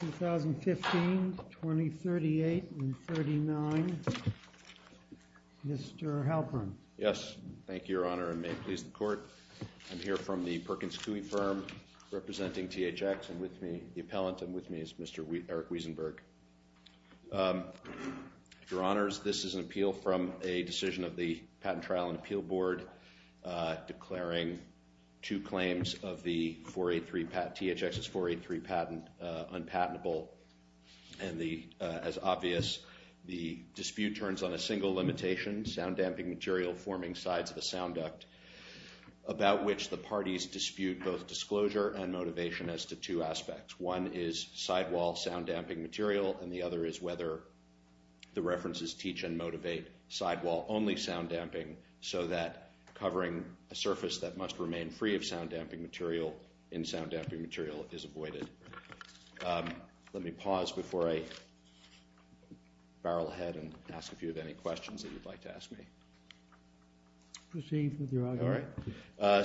2015, 2038, and 2039, Mr. Halpern. Yes, thank you, Your Honor, and may it please the Court. I'm here from the Perkins Coie firm, representing THX, and with me, the appellant, and with me is Mr. Eric Wiesenberg. Your Honors, this is an appeal from a decision of the Patent Trial and Appeal Board declaring two claims of the 483 patent, THX's 483 patent, unpatentable. And as obvious, the dispute turns on a single limitation, sound damping material forming sides of the sound duct, about which the parties dispute both disclosure and motivation as to two aspects. One is sidewall sound damping material, and the other is whether the references teach and motivate sidewall only sound damping so that covering a surface that must remain free of sound damping material in sound damping material is avoided. Let me pause before I barrel ahead and ask if you have any questions that you'd like to ask me. Proceed with your argument. Why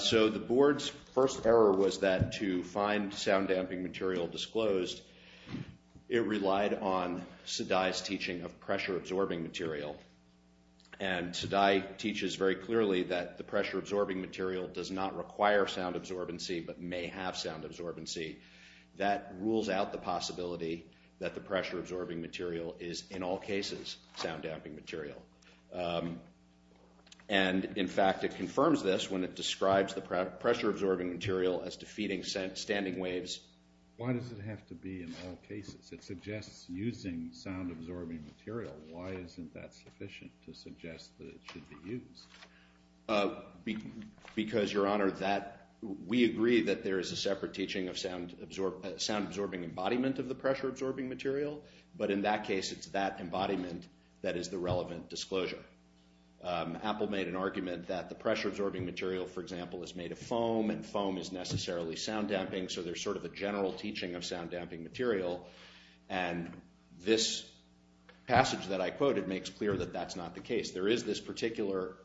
does it have to be in all cases? It suggests using sound absorbing material. Why isn't that sufficient to suggest that it should be used? Because, Your Honor, we agree that there is a separate teaching of sound absorbing embodiment of the pressure absorbing material, but in that case, it's that embodiment that is the relevant disclosure. Apple made an argument that the pressure absorbing material, for example, is made of foam and foam is necessarily sound damping, so there's sort of a general teaching of sound damping material. And this passage that I quoted makes clear that that's not the case. There is this particular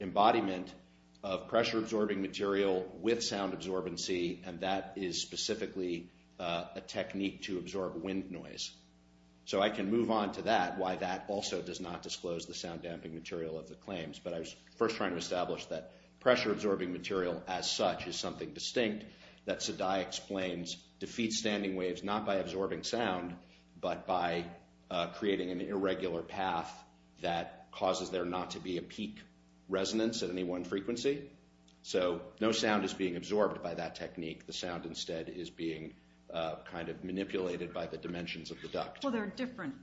embodiment of pressure absorbing material with sound absorbency, and that is specifically a technique to absorb wind noise. So I can move on to that, why that also does not disclose the sound damping material of the claims. But I was first trying to establish that pressure absorbing material as such is something distinct, that Sedai explains defeats standing waves not by absorbing sound, but by creating an irregular path that causes there not to be a peak resonance at any one frequency. So no sound is being absorbed by that technique. The sound instead is being kind of manipulated by the dimensions of the duct. Well, there are different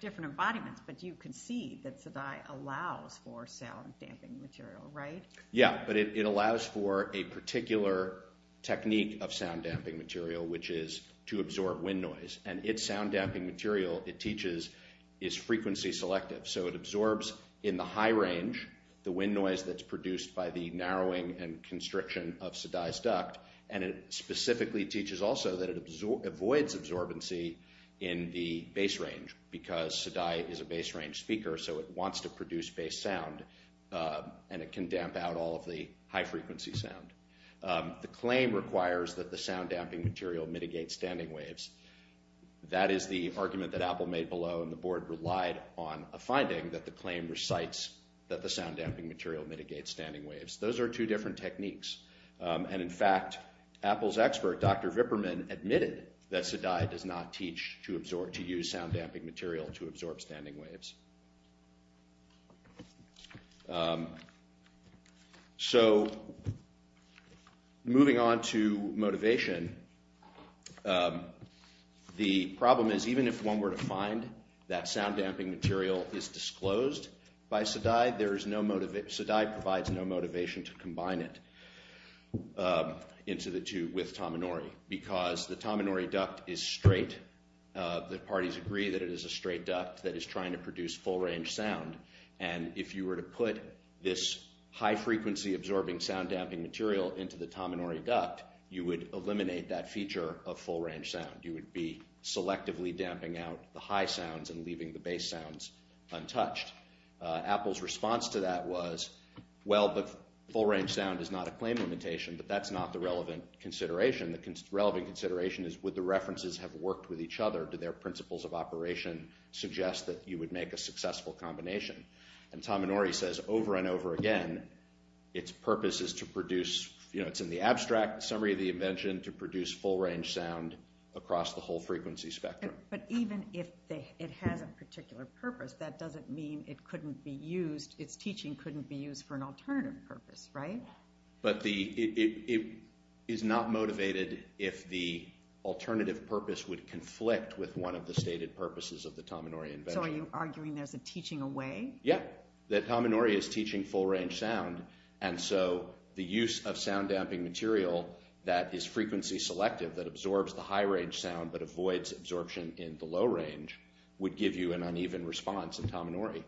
different embodiments, but you can see that Sedai allows for sound damping material, right? Yeah, but it allows for a particular technique of sound damping material, which is to absorb wind noise and its sound damping material. It teaches is frequency selective, so it absorbs in the high range the wind noise that's produced by the narrowing and constriction of Sedai's duct. And it specifically teaches also that it avoids absorbency in the base range, because Sedai is a base range speaker, so it wants to produce base sound, and it can damp out all of the high frequency sound. The claim requires that the sound damping material mitigate standing waves. That is the argument that Apple made below, and the board relied on a finding that the claim recites that the sound damping material mitigates standing waves. Those are two different techniques, and in fact, Apple's expert, Dr. Vipperman, admitted that Sedai does not teach to use sound damping material to absorb standing waves. So, moving on to motivation, the problem is even if one were to find that sound damping material is disclosed by Sedai, Sedai provides no motivation to combine it into the tube with Tominori, because the Tominori duct is straight. The parties agree that it is a straight duct that is trying to produce full range sound, and if you were to put this high frequency absorbing sound damping material into the Tominori duct, you would eliminate that feature of full range sound. You would be selectively damping out the high sounds and leaving the base sounds untouched. Apple's response to that was, well, but full range sound is not a claim limitation, but that's not the relevant consideration. The relevant consideration is would the references have worked with each other? Do their principles of operation suggest that you would make a successful combination? And Tominori says over and over again, its purpose is to produce, you know, it's in the abstract summary of the invention to produce full range sound across the whole frequency spectrum. But even if it has a particular purpose, that doesn't mean it couldn't be used, its teaching couldn't be used for an alternative purpose, right? But it is not motivated if the alternative purpose would conflict with one of the stated purposes of the Tominori invention. So are you arguing there's a teaching away? Yeah, that Tominori is teaching full range sound. And so the use of sound damping material that is frequency selective, that absorbs the high range sound, but avoids absorption in the low range, would give you an uneven response in Tominori.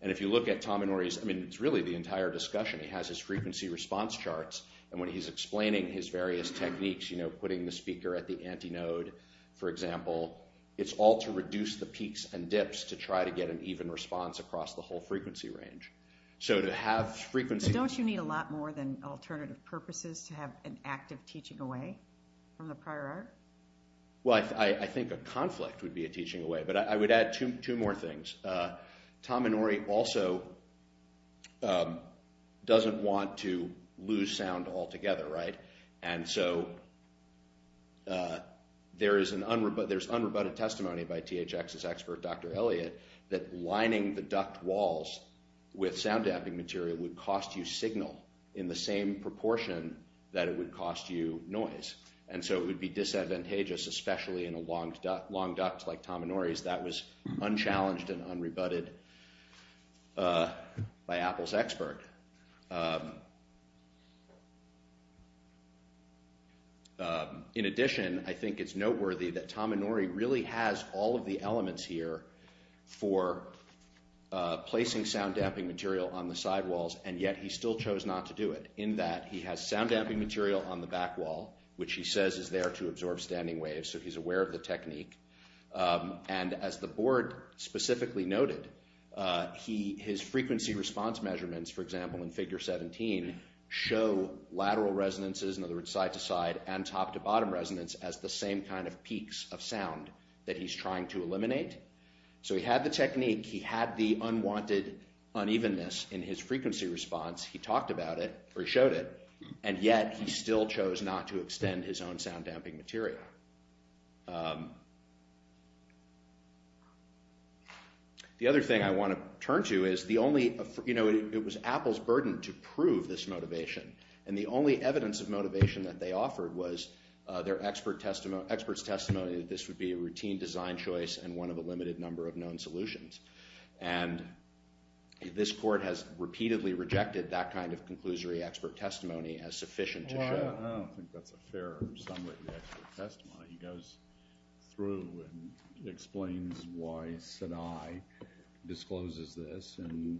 And if you look at Tominori's, I mean, it's really the entire discussion, he has his frequency response charts. And when he's explaining his various techniques, you know, putting the speaker at the antinode, for example, it's all to reduce the peaks and dips to try to get an even response across the whole frequency range. So to have frequency... Don't you need a lot more than alternative purposes to have an active teaching away from the prior art? Well, I think a conflict would be a teaching away, but I would add two more things. Tominori also doesn't want to lose sound altogether, right? And so there's unrebutted testimony by THX's expert, Dr. Elliott, that lining the duct walls with sound damping material would cost you signal in the same proportion that it would cost you noise. And so it would be disadvantageous, especially in a long duct like Tominori's, that was unchallenged and unrebutted by Apple's expert. In addition, I think it's noteworthy that Tominori really has all of the elements here for placing sound damping material on the sidewalls, and yet he still chose not to do it. In that he has sound damping material on the back wall, which he says is there to absorb standing waves, so he's aware of the technique. And as the board specifically noted, his frequency response measurements, for example, in figure 17, show lateral resonances, in other words side to side, and top to bottom resonance as the same kind of peaks of sound that he's trying to eliminate. So he had the technique, he had the unwanted unevenness in his frequency response, he talked about it, or he showed it, and yet he still chose not to extend his own sound damping material. The other thing I want to turn to is the only, you know, it was Apple's burden to prove this motivation, and the only evidence of motivation that they offered was their expert's testimony that this would be a routine design choice and one of a limited number of known solutions. And this court has repeatedly rejected that kind of conclusory expert testimony as sufficient to show. I don't think that's a fair summary of the expert testimony. He goes through and explains why Sinai discloses this and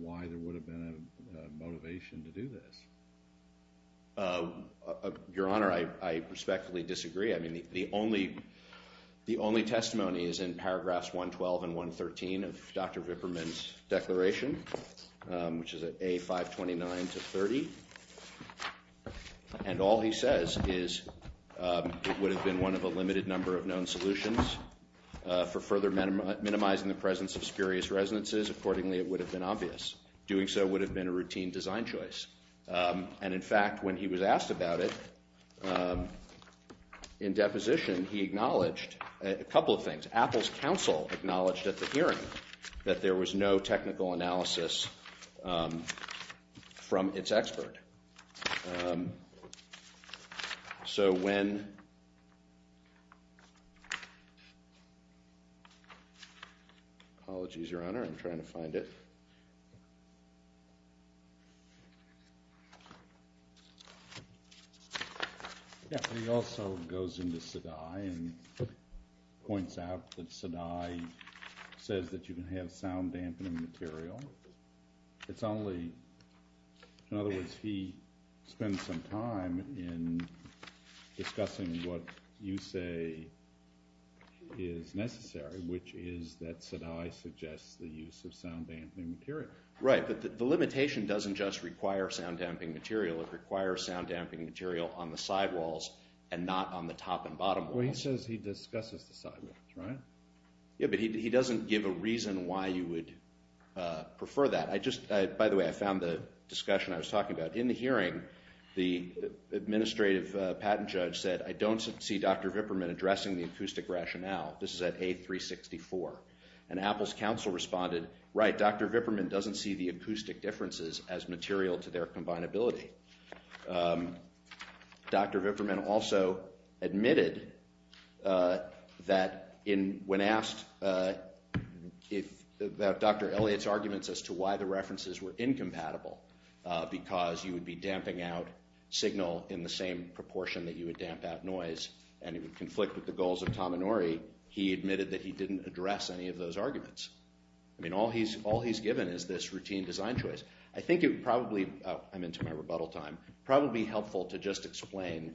why there would have been a motivation to do this. Your Honor, I respectfully disagree. I mean, the only testimony is in paragraphs 112 and 113 of Dr. Vipperman's declaration, which is at A529 to 30. And all he says is it would have been one of a limited number of known solutions for further minimizing the presence of spurious resonances. Accordingly, it would have been obvious. Doing so would have been a routine design choice. And in fact, when he was asked about it in deposition, he acknowledged a couple of things. Apple's counsel acknowledged at the hearing that there was no technical analysis from its expert. So when—apologies, Your Honor, I'm trying to find it. Yeah, he also goes into Sinai and points out that Sinai says that you can have sound dampening material. It's only—in other words, he spends some time in discussing what you say is necessary, which is that Sinai suggests the use of sound damping material. Right, but the limitation doesn't just require sound damping material. It requires sound damping material on the sidewalls and not on the top and bottom walls. Well, he says he discusses the sidewalls, right? Yeah, but he doesn't give a reason why you would prefer that. I just—by the way, I found the discussion I was talking about. In the hearing, the administrative patent judge said, I don't see Dr. Vipperman addressing the acoustic rationale. This is at A364. And Apple's counsel responded, right, Dr. Vipperman doesn't see the acoustic differences as material to their combinability. Dr. Vipperman also admitted that when asked about Dr. Elliott's arguments as to why the references were incompatible, because you would be damping out signal in the same proportion that you would damp out noise, and it would conflict with the goals of Tom Inouye, he admitted that he didn't address any of those arguments. I mean, all he's given is this routine design choice. I think it would probably—oh, I'm into my rebuttal time—probably helpful to just explain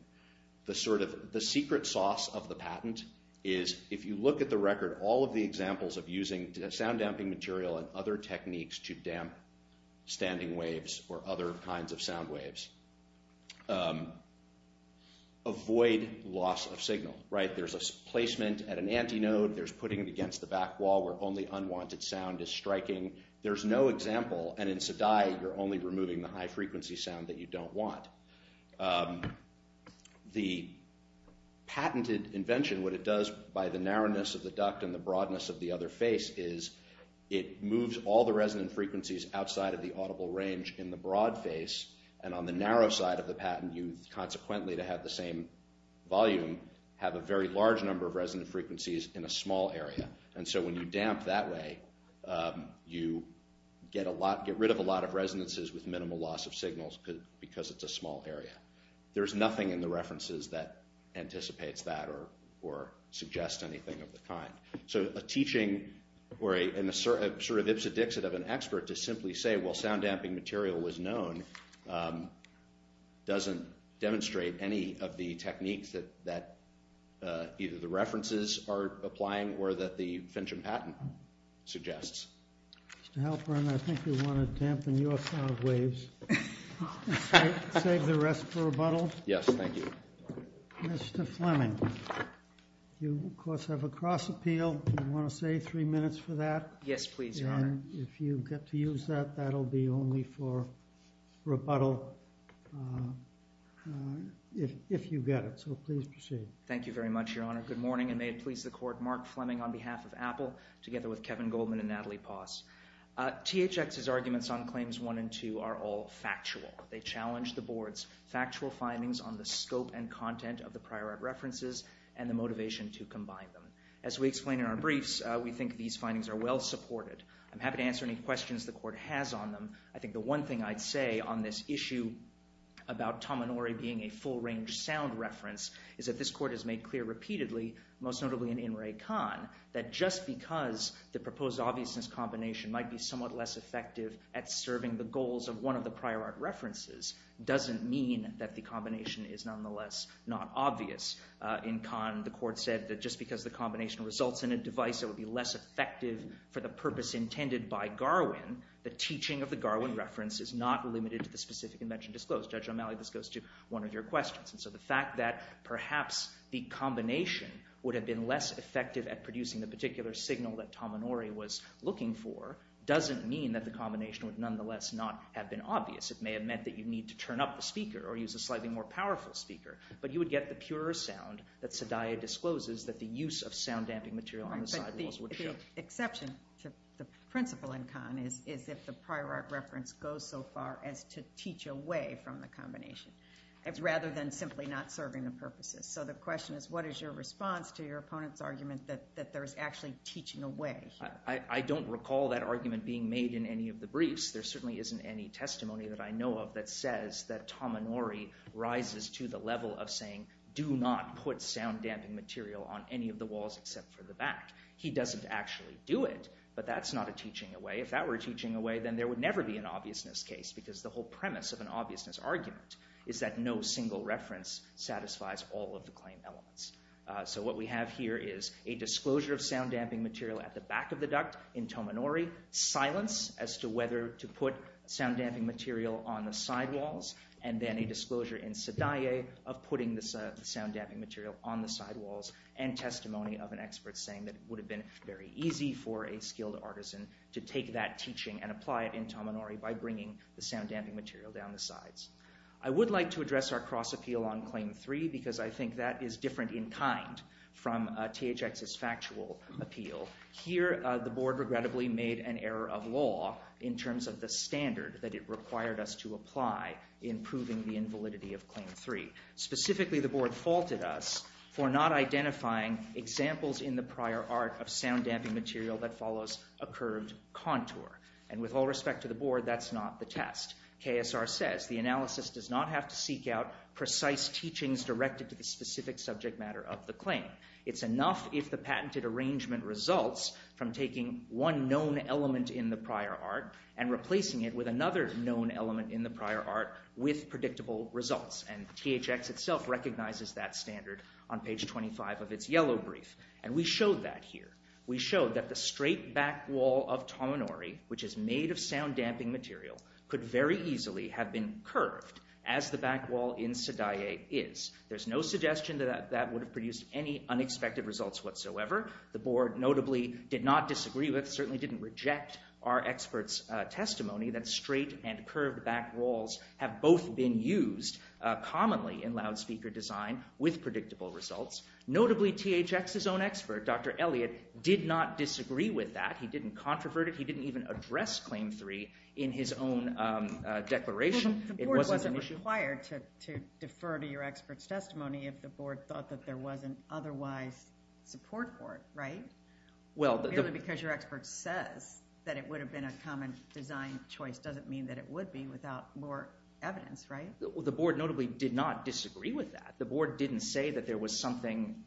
the secret sauce of the patent is if you look at the record, all of the examples of using sound damping material and other techniques to damp standing waves or other kinds of sound waves, avoid loss of signal, right? There's a placement at an antinode. There's putting it against the back wall where only unwanted sound is striking. There's no example, and in SDI, you're only removing the high-frequency sound that you don't want. The patented invention, what it does by the narrowness of the duct and the broadness of the other face, is it moves all the resonant frequencies outside of the audible range in the broad face, and on the narrow side of the patent, you consequently, to have the same volume, have a very large number of resonant frequencies in a small area. And so when you damp that way, you get rid of a lot of resonances with minimal loss of signals because it's a small area. There's nothing in the references that anticipates that or suggests anything of the kind. So a teaching or a sort of ipsodixit of an expert to simply say, well, sound damping material was known, doesn't demonstrate any of the techniques that either the references are applying or that the Finchham patent suggests. Mr. Halperin, I think we want to dampen your sound waves. Save the rest for rebuttal? Yes, thank you. Mr. Fleming, you, of course, have a cross appeal. Do you want to say three minutes for that? Yes, please, Your Honor. And if you get to use that, that will be only for rebuttal if you get it. So please proceed. Thank you very much, Your Honor. Good morning, and may it please the Court. Mark Fleming on behalf of Apple, together with Kevin Goldman and Natalie Posse. THX's arguments on Claims 1 and 2 are all factual. They challenge the Board's factual findings on the scope and content of the prior art references and the motivation to combine them. As we explain in our briefs, we think these findings are well supported. I'm happy to answer any questions the Court has on them. I think the one thing I'd say on this issue about Tominori being a full-range sound reference is that this Court has made clear repeatedly, most notably in In Re Con, that just because the proposed obviousness combination might be somewhat less effective at serving the goals of one of the prior art references doesn't mean that the combination is nonetheless not obvious. In Con, the Court said that just because the combination results in a device that would be less effective for the purpose intended by Garwin, the teaching of the Garwin reference is not limited to the specific invention disclosed. Judge O'Malley, this goes to one of your questions. The fact that perhaps the combination would have been less effective at producing the particular signal that Tominori was looking for doesn't mean that the combination would nonetheless not have been obvious. It may have meant that you'd need to turn up the speaker or use a slightly more powerful speaker, but you would get the purer sound that Sedaya discloses that the use of sound-damping material on the sidewalls would show. The exception to the principle in Con is if the prior art reference goes so far as to teach away from the combination rather than simply not serving the purposes. So the question is, what is your response to your opponent's argument that there's actually teaching away? I don't recall that argument being made in any of the briefs. There certainly isn't any testimony that I know of that says that Tominori rises to the level of saying, do not put sound-damping material on any of the walls except for the back. He doesn't actually do it, but that's not a teaching away. If that were a teaching away, then there would never be an obviousness case because the whole premise of an obviousness argument is that no single reference satisfies all of the claim elements. So what we have here is a disclosure of sound-damping material at the back of the duct in Tominori, silence as to whether to put sound-damping material on the sidewalls, and then a disclosure in Sedaya of putting the sound-damping material on the sidewalls, and testimony of an expert saying that it would have been very easy for a skilled artisan to take that teaching and apply it in Tominori by bringing the sound-damping material down the sides. I would like to address our cross-appeal on Claim 3 because I think that is different in kind from THX's factual appeal. Here the board regrettably made an error of law in terms of the standard that it required us to apply in proving the invalidity of Claim 3. Specifically, the board faulted us for not identifying examples in the prior art of sound-damping material that follows a curved contour. And with all respect to the board, that's not the test. KSR says the analysis does not have to seek out precise teachings directed to the specific subject matter of the claim. It's enough if the patented arrangement results from taking one known element in the prior art and replacing it with another known element in the prior art with predictable results. And THX itself recognizes that standard on page 25 of its yellow brief. And we showed that here. We showed that the straight back wall of Tominori, which is made of sound-damping material, could very easily have been curved as the back wall in Sadae is. There's no suggestion that that would have produced any unexpected results whatsoever. The board notably did not disagree with, certainly didn't reject our experts' testimony that straight and curved back walls have both been used commonly in loudspeaker design with predictable results. Notably, THX's own expert, Dr. Elliott, did not disagree with that. He didn't controvert it. He didn't even address Claim 3 in his own declaration. It wasn't an issue. The board wasn't required to defer to your experts' testimony if the board thought that there was an otherwise support board, right? Well, the... Merely because your expert says that it would have been a common design choice doesn't mean that it would be without more evidence, right? The board notably did not disagree with that. The board didn't say that there was something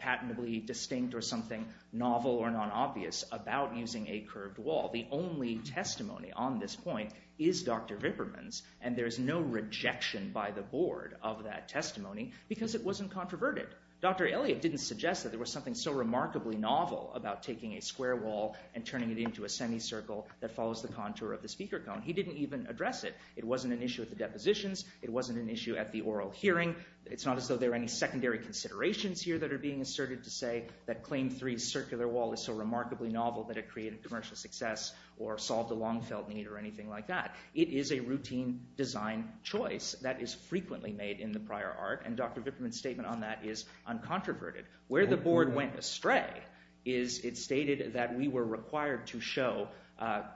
patently distinct or something novel or non-obvious about using a curved wall. The only testimony on this point is Dr. Vipperman's, and there's no rejection by the board of that testimony because it wasn't controverted. Dr. Elliott didn't suggest that there was something so remarkably novel about taking a square wall and turning it into a semicircle that follows the contour of the speaker cone. He didn't even address it. It wasn't an issue at the depositions. It wasn't an issue at the oral hearing. It's not as though there are any secondary considerations here that are being asserted to say that Claim 3's circular wall is so remarkably novel that it created commercial success or solved a long-felt need or anything like that. It is a routine design choice that is frequently made in the prior art, and Dr. Vipperman's statement on that is uncontroverted. Where the board went astray is it stated that we were required to show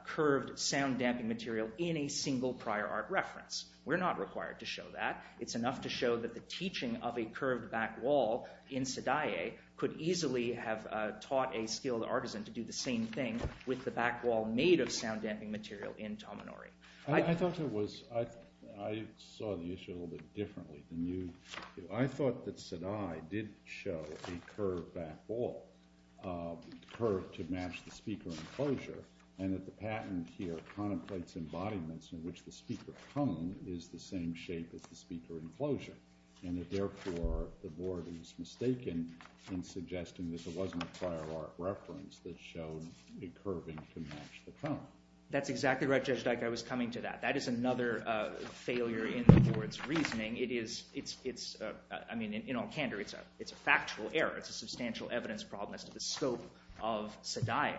curved, sound-damping material in a single prior art reference. We're not required to show that. It's enough to show that the teaching of a curved back wall in Sadae could easily have taught a skilled artisan to do the same thing with the back wall made of sound-damping material in Tominori. I thought it was... I saw the issue a little bit differently than you. I thought that Sadae did show a curved back wall, curved to match the speaker enclosure, and that the patent here contemplates embodiments in which the speaker cone is the same shape as the speaker enclosure, and that therefore the board is mistaken in suggesting that there wasn't a prior art reference that showed a curving to match the cone. That's exactly right, Judge Dyke. I was coming to that. That is another failure in the board's reasoning. It is... I mean, in all candor, it's a factual error. It's a substantial evidence problem as to the scope of Sadae.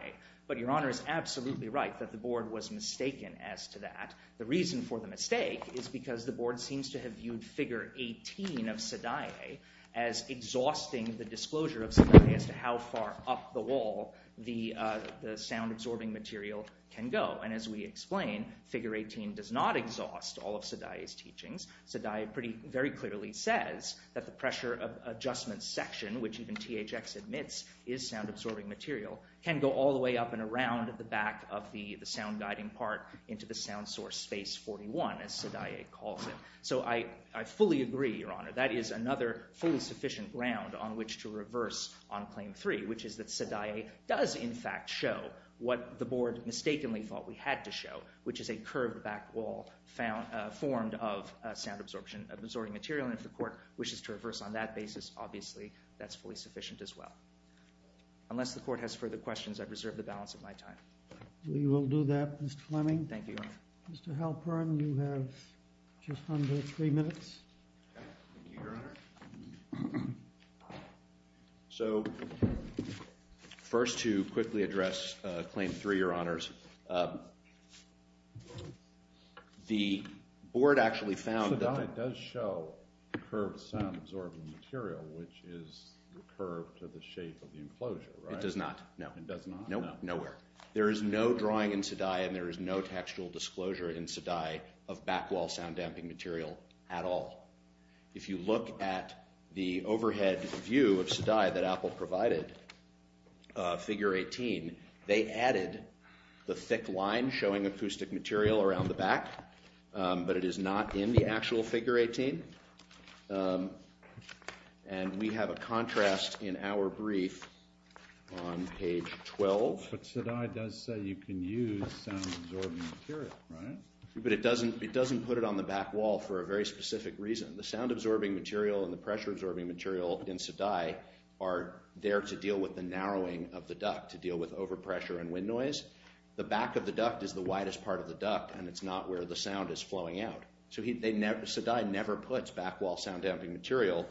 But Your Honor is absolutely right that the board was mistaken as to that. The reason for the mistake is because the board seems to have viewed figure 18 of Sadae as exhausting the disclosure of Sadae as to how far up the wall the sound-absorbing material can go. And as we explain, figure 18 does not exhaust all of Sadae's teachings. Sadae very clearly says that the pressure adjustment section, which even THX admits is sound-absorbing material, can go all the way up and around the back of the sound-guiding part into the sound source space 41, as Sadae calls it. So I fully agree, Your Honor. That is another fully sufficient ground on which to reverse on Claim 3, which is that Sadae does in fact show what the board mistakenly thought we had to show, which is a curved back wall formed of sound-absorbing material. And if the court wishes to reverse on that basis, obviously that's fully sufficient as well. Unless the court has further questions, I reserve the balance of my time. We will do that, Mr. Fleming. Thank you, Your Honor. Mr. Halpern, you have just under three minutes. Thank you, Your Honor. So first to quickly address Claim 3, Your Honors. The board actually found that Sadae does show curved sound-absorbing material, which is curved to the shape of the enclosure, right? It does not, no. It does not? Nope, nowhere. There is no drawing in Sadae and there is no textual disclosure in Sadae of back wall sound-damping material at all. If you look at the overhead view of Sadae that Apple provided, figure 18, they added the thick line showing acoustic material around the back, but it is not in the actual figure 18. And we have a contrast in our brief on page 12. But Sadae does say you can use sound-absorbing material, right? But it doesn't put it on the back wall for a very specific reason. The sound-absorbing material and the pressure-absorbing material in Sadae are there to deal with the narrowing of the duct, to deal with overpressure and wind noise. The back of the duct is the widest part of the duct and it's not where the sound is flowing out. So Sadae never puts back wall sound-damping material.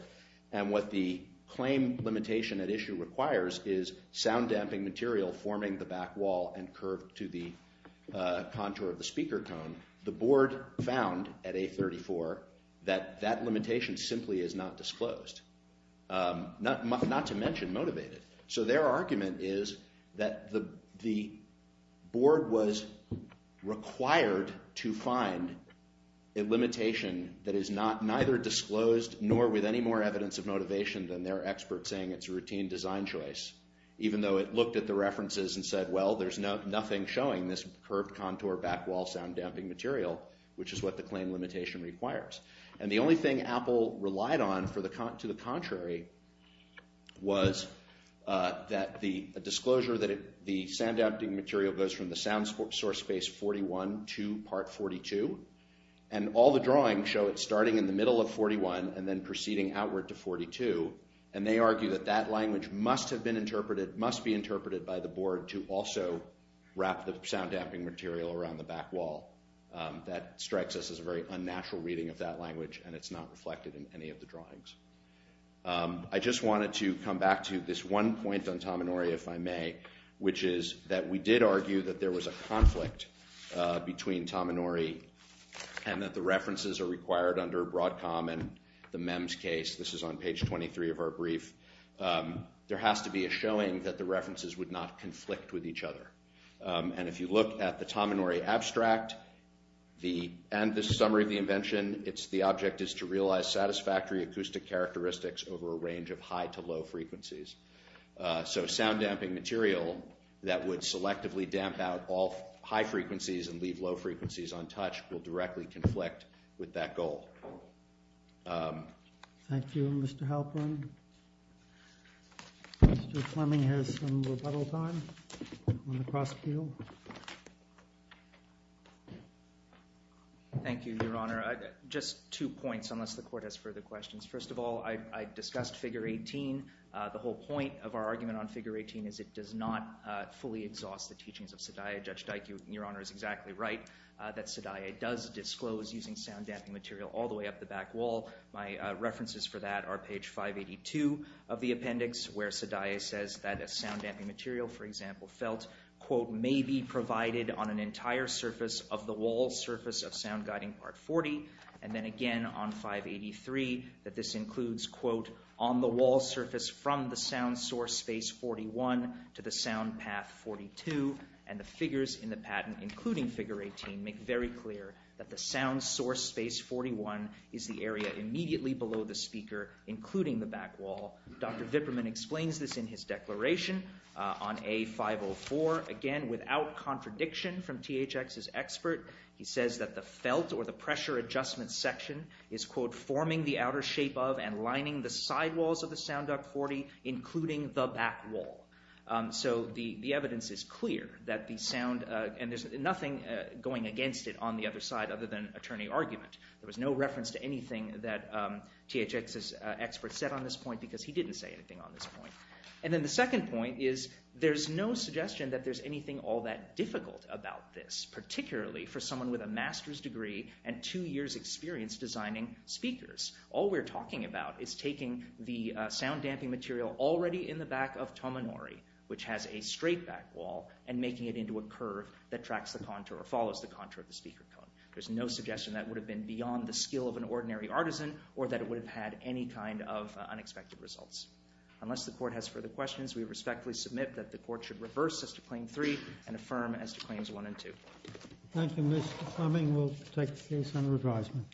And what the claim limitation at issue requires is sound-damping material forming the back wall and curved to the contour of the speaker cone. The board found at A34 that that limitation simply is not disclosed, not to mention motivated. So their argument is that the board was required to find a limitation that is neither disclosed nor with any more evidence of motivation than their expert saying it's a routine design choice, even though it looked at the references and said, well, there's nothing showing this curved contour back wall sound-damping material, which is what the claim limitation requires. And the only thing Apple relied on to the contrary was a disclosure that the sound-damping material goes from the sound source space 41 to part 42, and all the drawings show it starting in the middle of 41 and then proceeding outward to 42. And they argue that that language must have been interpreted, must be interpreted by the board to also wrap the sound-damping material around the back wall. That strikes us as a very unnatural reading of that language and it's not reflected in any of the drawings. I just wanted to come back to this one point on Tominori, if I may, which is that we did argue that there was a conflict between Tominori and that the references are required under Broadcom and the MEMS case. This is on page 23 of our brief. There has to be a showing that the references would not conflict with each other. And if you look at the Tominori abstract and the summary of the invention, the object is to realize satisfactory acoustic characteristics over a range of high to low frequencies. So sound-damping material that would selectively damp out all high frequencies and leave low frequencies untouched will directly conflict with that goal. Thank you, Mr. Halperin. Mr. Fleming has some rebuttal time on the cross-appeal. Thank you, Your Honor. Just two points, unless the Court has further questions. First of all, I discussed Figure 18. The whole point of our argument on Figure 18 is it does not fully exhaust the teachings of Sadiye. Judge Dike, Your Honor, is exactly right that Sadiye does disclose using sound-damping material all the way up the back wall. My references for that are page 582 of the appendix, where Sadiye says that a sound-damping material, for example, felt, quote, may be provided on an entire surface of the wall surface of Sound Guiding Part 40. And then again on 583 that this includes, quote, on the wall surface from the sound source space 41 to the sound path 42. And the figures in the patent, including Figure 18, make very clear that the sound source space 41 is the area immediately below the speaker, including the back wall. Dr. Viperman explains this in his declaration on A504. Again, without contradiction from THX's expert, he says that the felt or the pressure adjustment section is, quote, forming the outer shape of and lining the sidewalls of the sound duct 40, including the back wall. So the evidence is clear that the sound and there's nothing going against it on the other side other than attorney argument. There was no reference to anything that THX's expert said on this point because he didn't say anything on this point. And then the second point is there's no suggestion that there's anything all that difficult about this, particularly for someone with a master's degree and two years' experience designing speakers. All we're talking about is taking the sound damping material already in the back of Tomonori, which has a straight back wall, and making it into a curve that tracks the contour or follows the contour of the speaker cone. There's no suggestion that would have been beyond the skill of an ordinary artisan or that it would have had any kind of unexpected results. Unless the court has further questions, we respectfully submit that the court should reverse as to Claim 3 and affirm as to Claims 1 and 2. Thank you, Mr. Fleming. We'll take the case under advisement.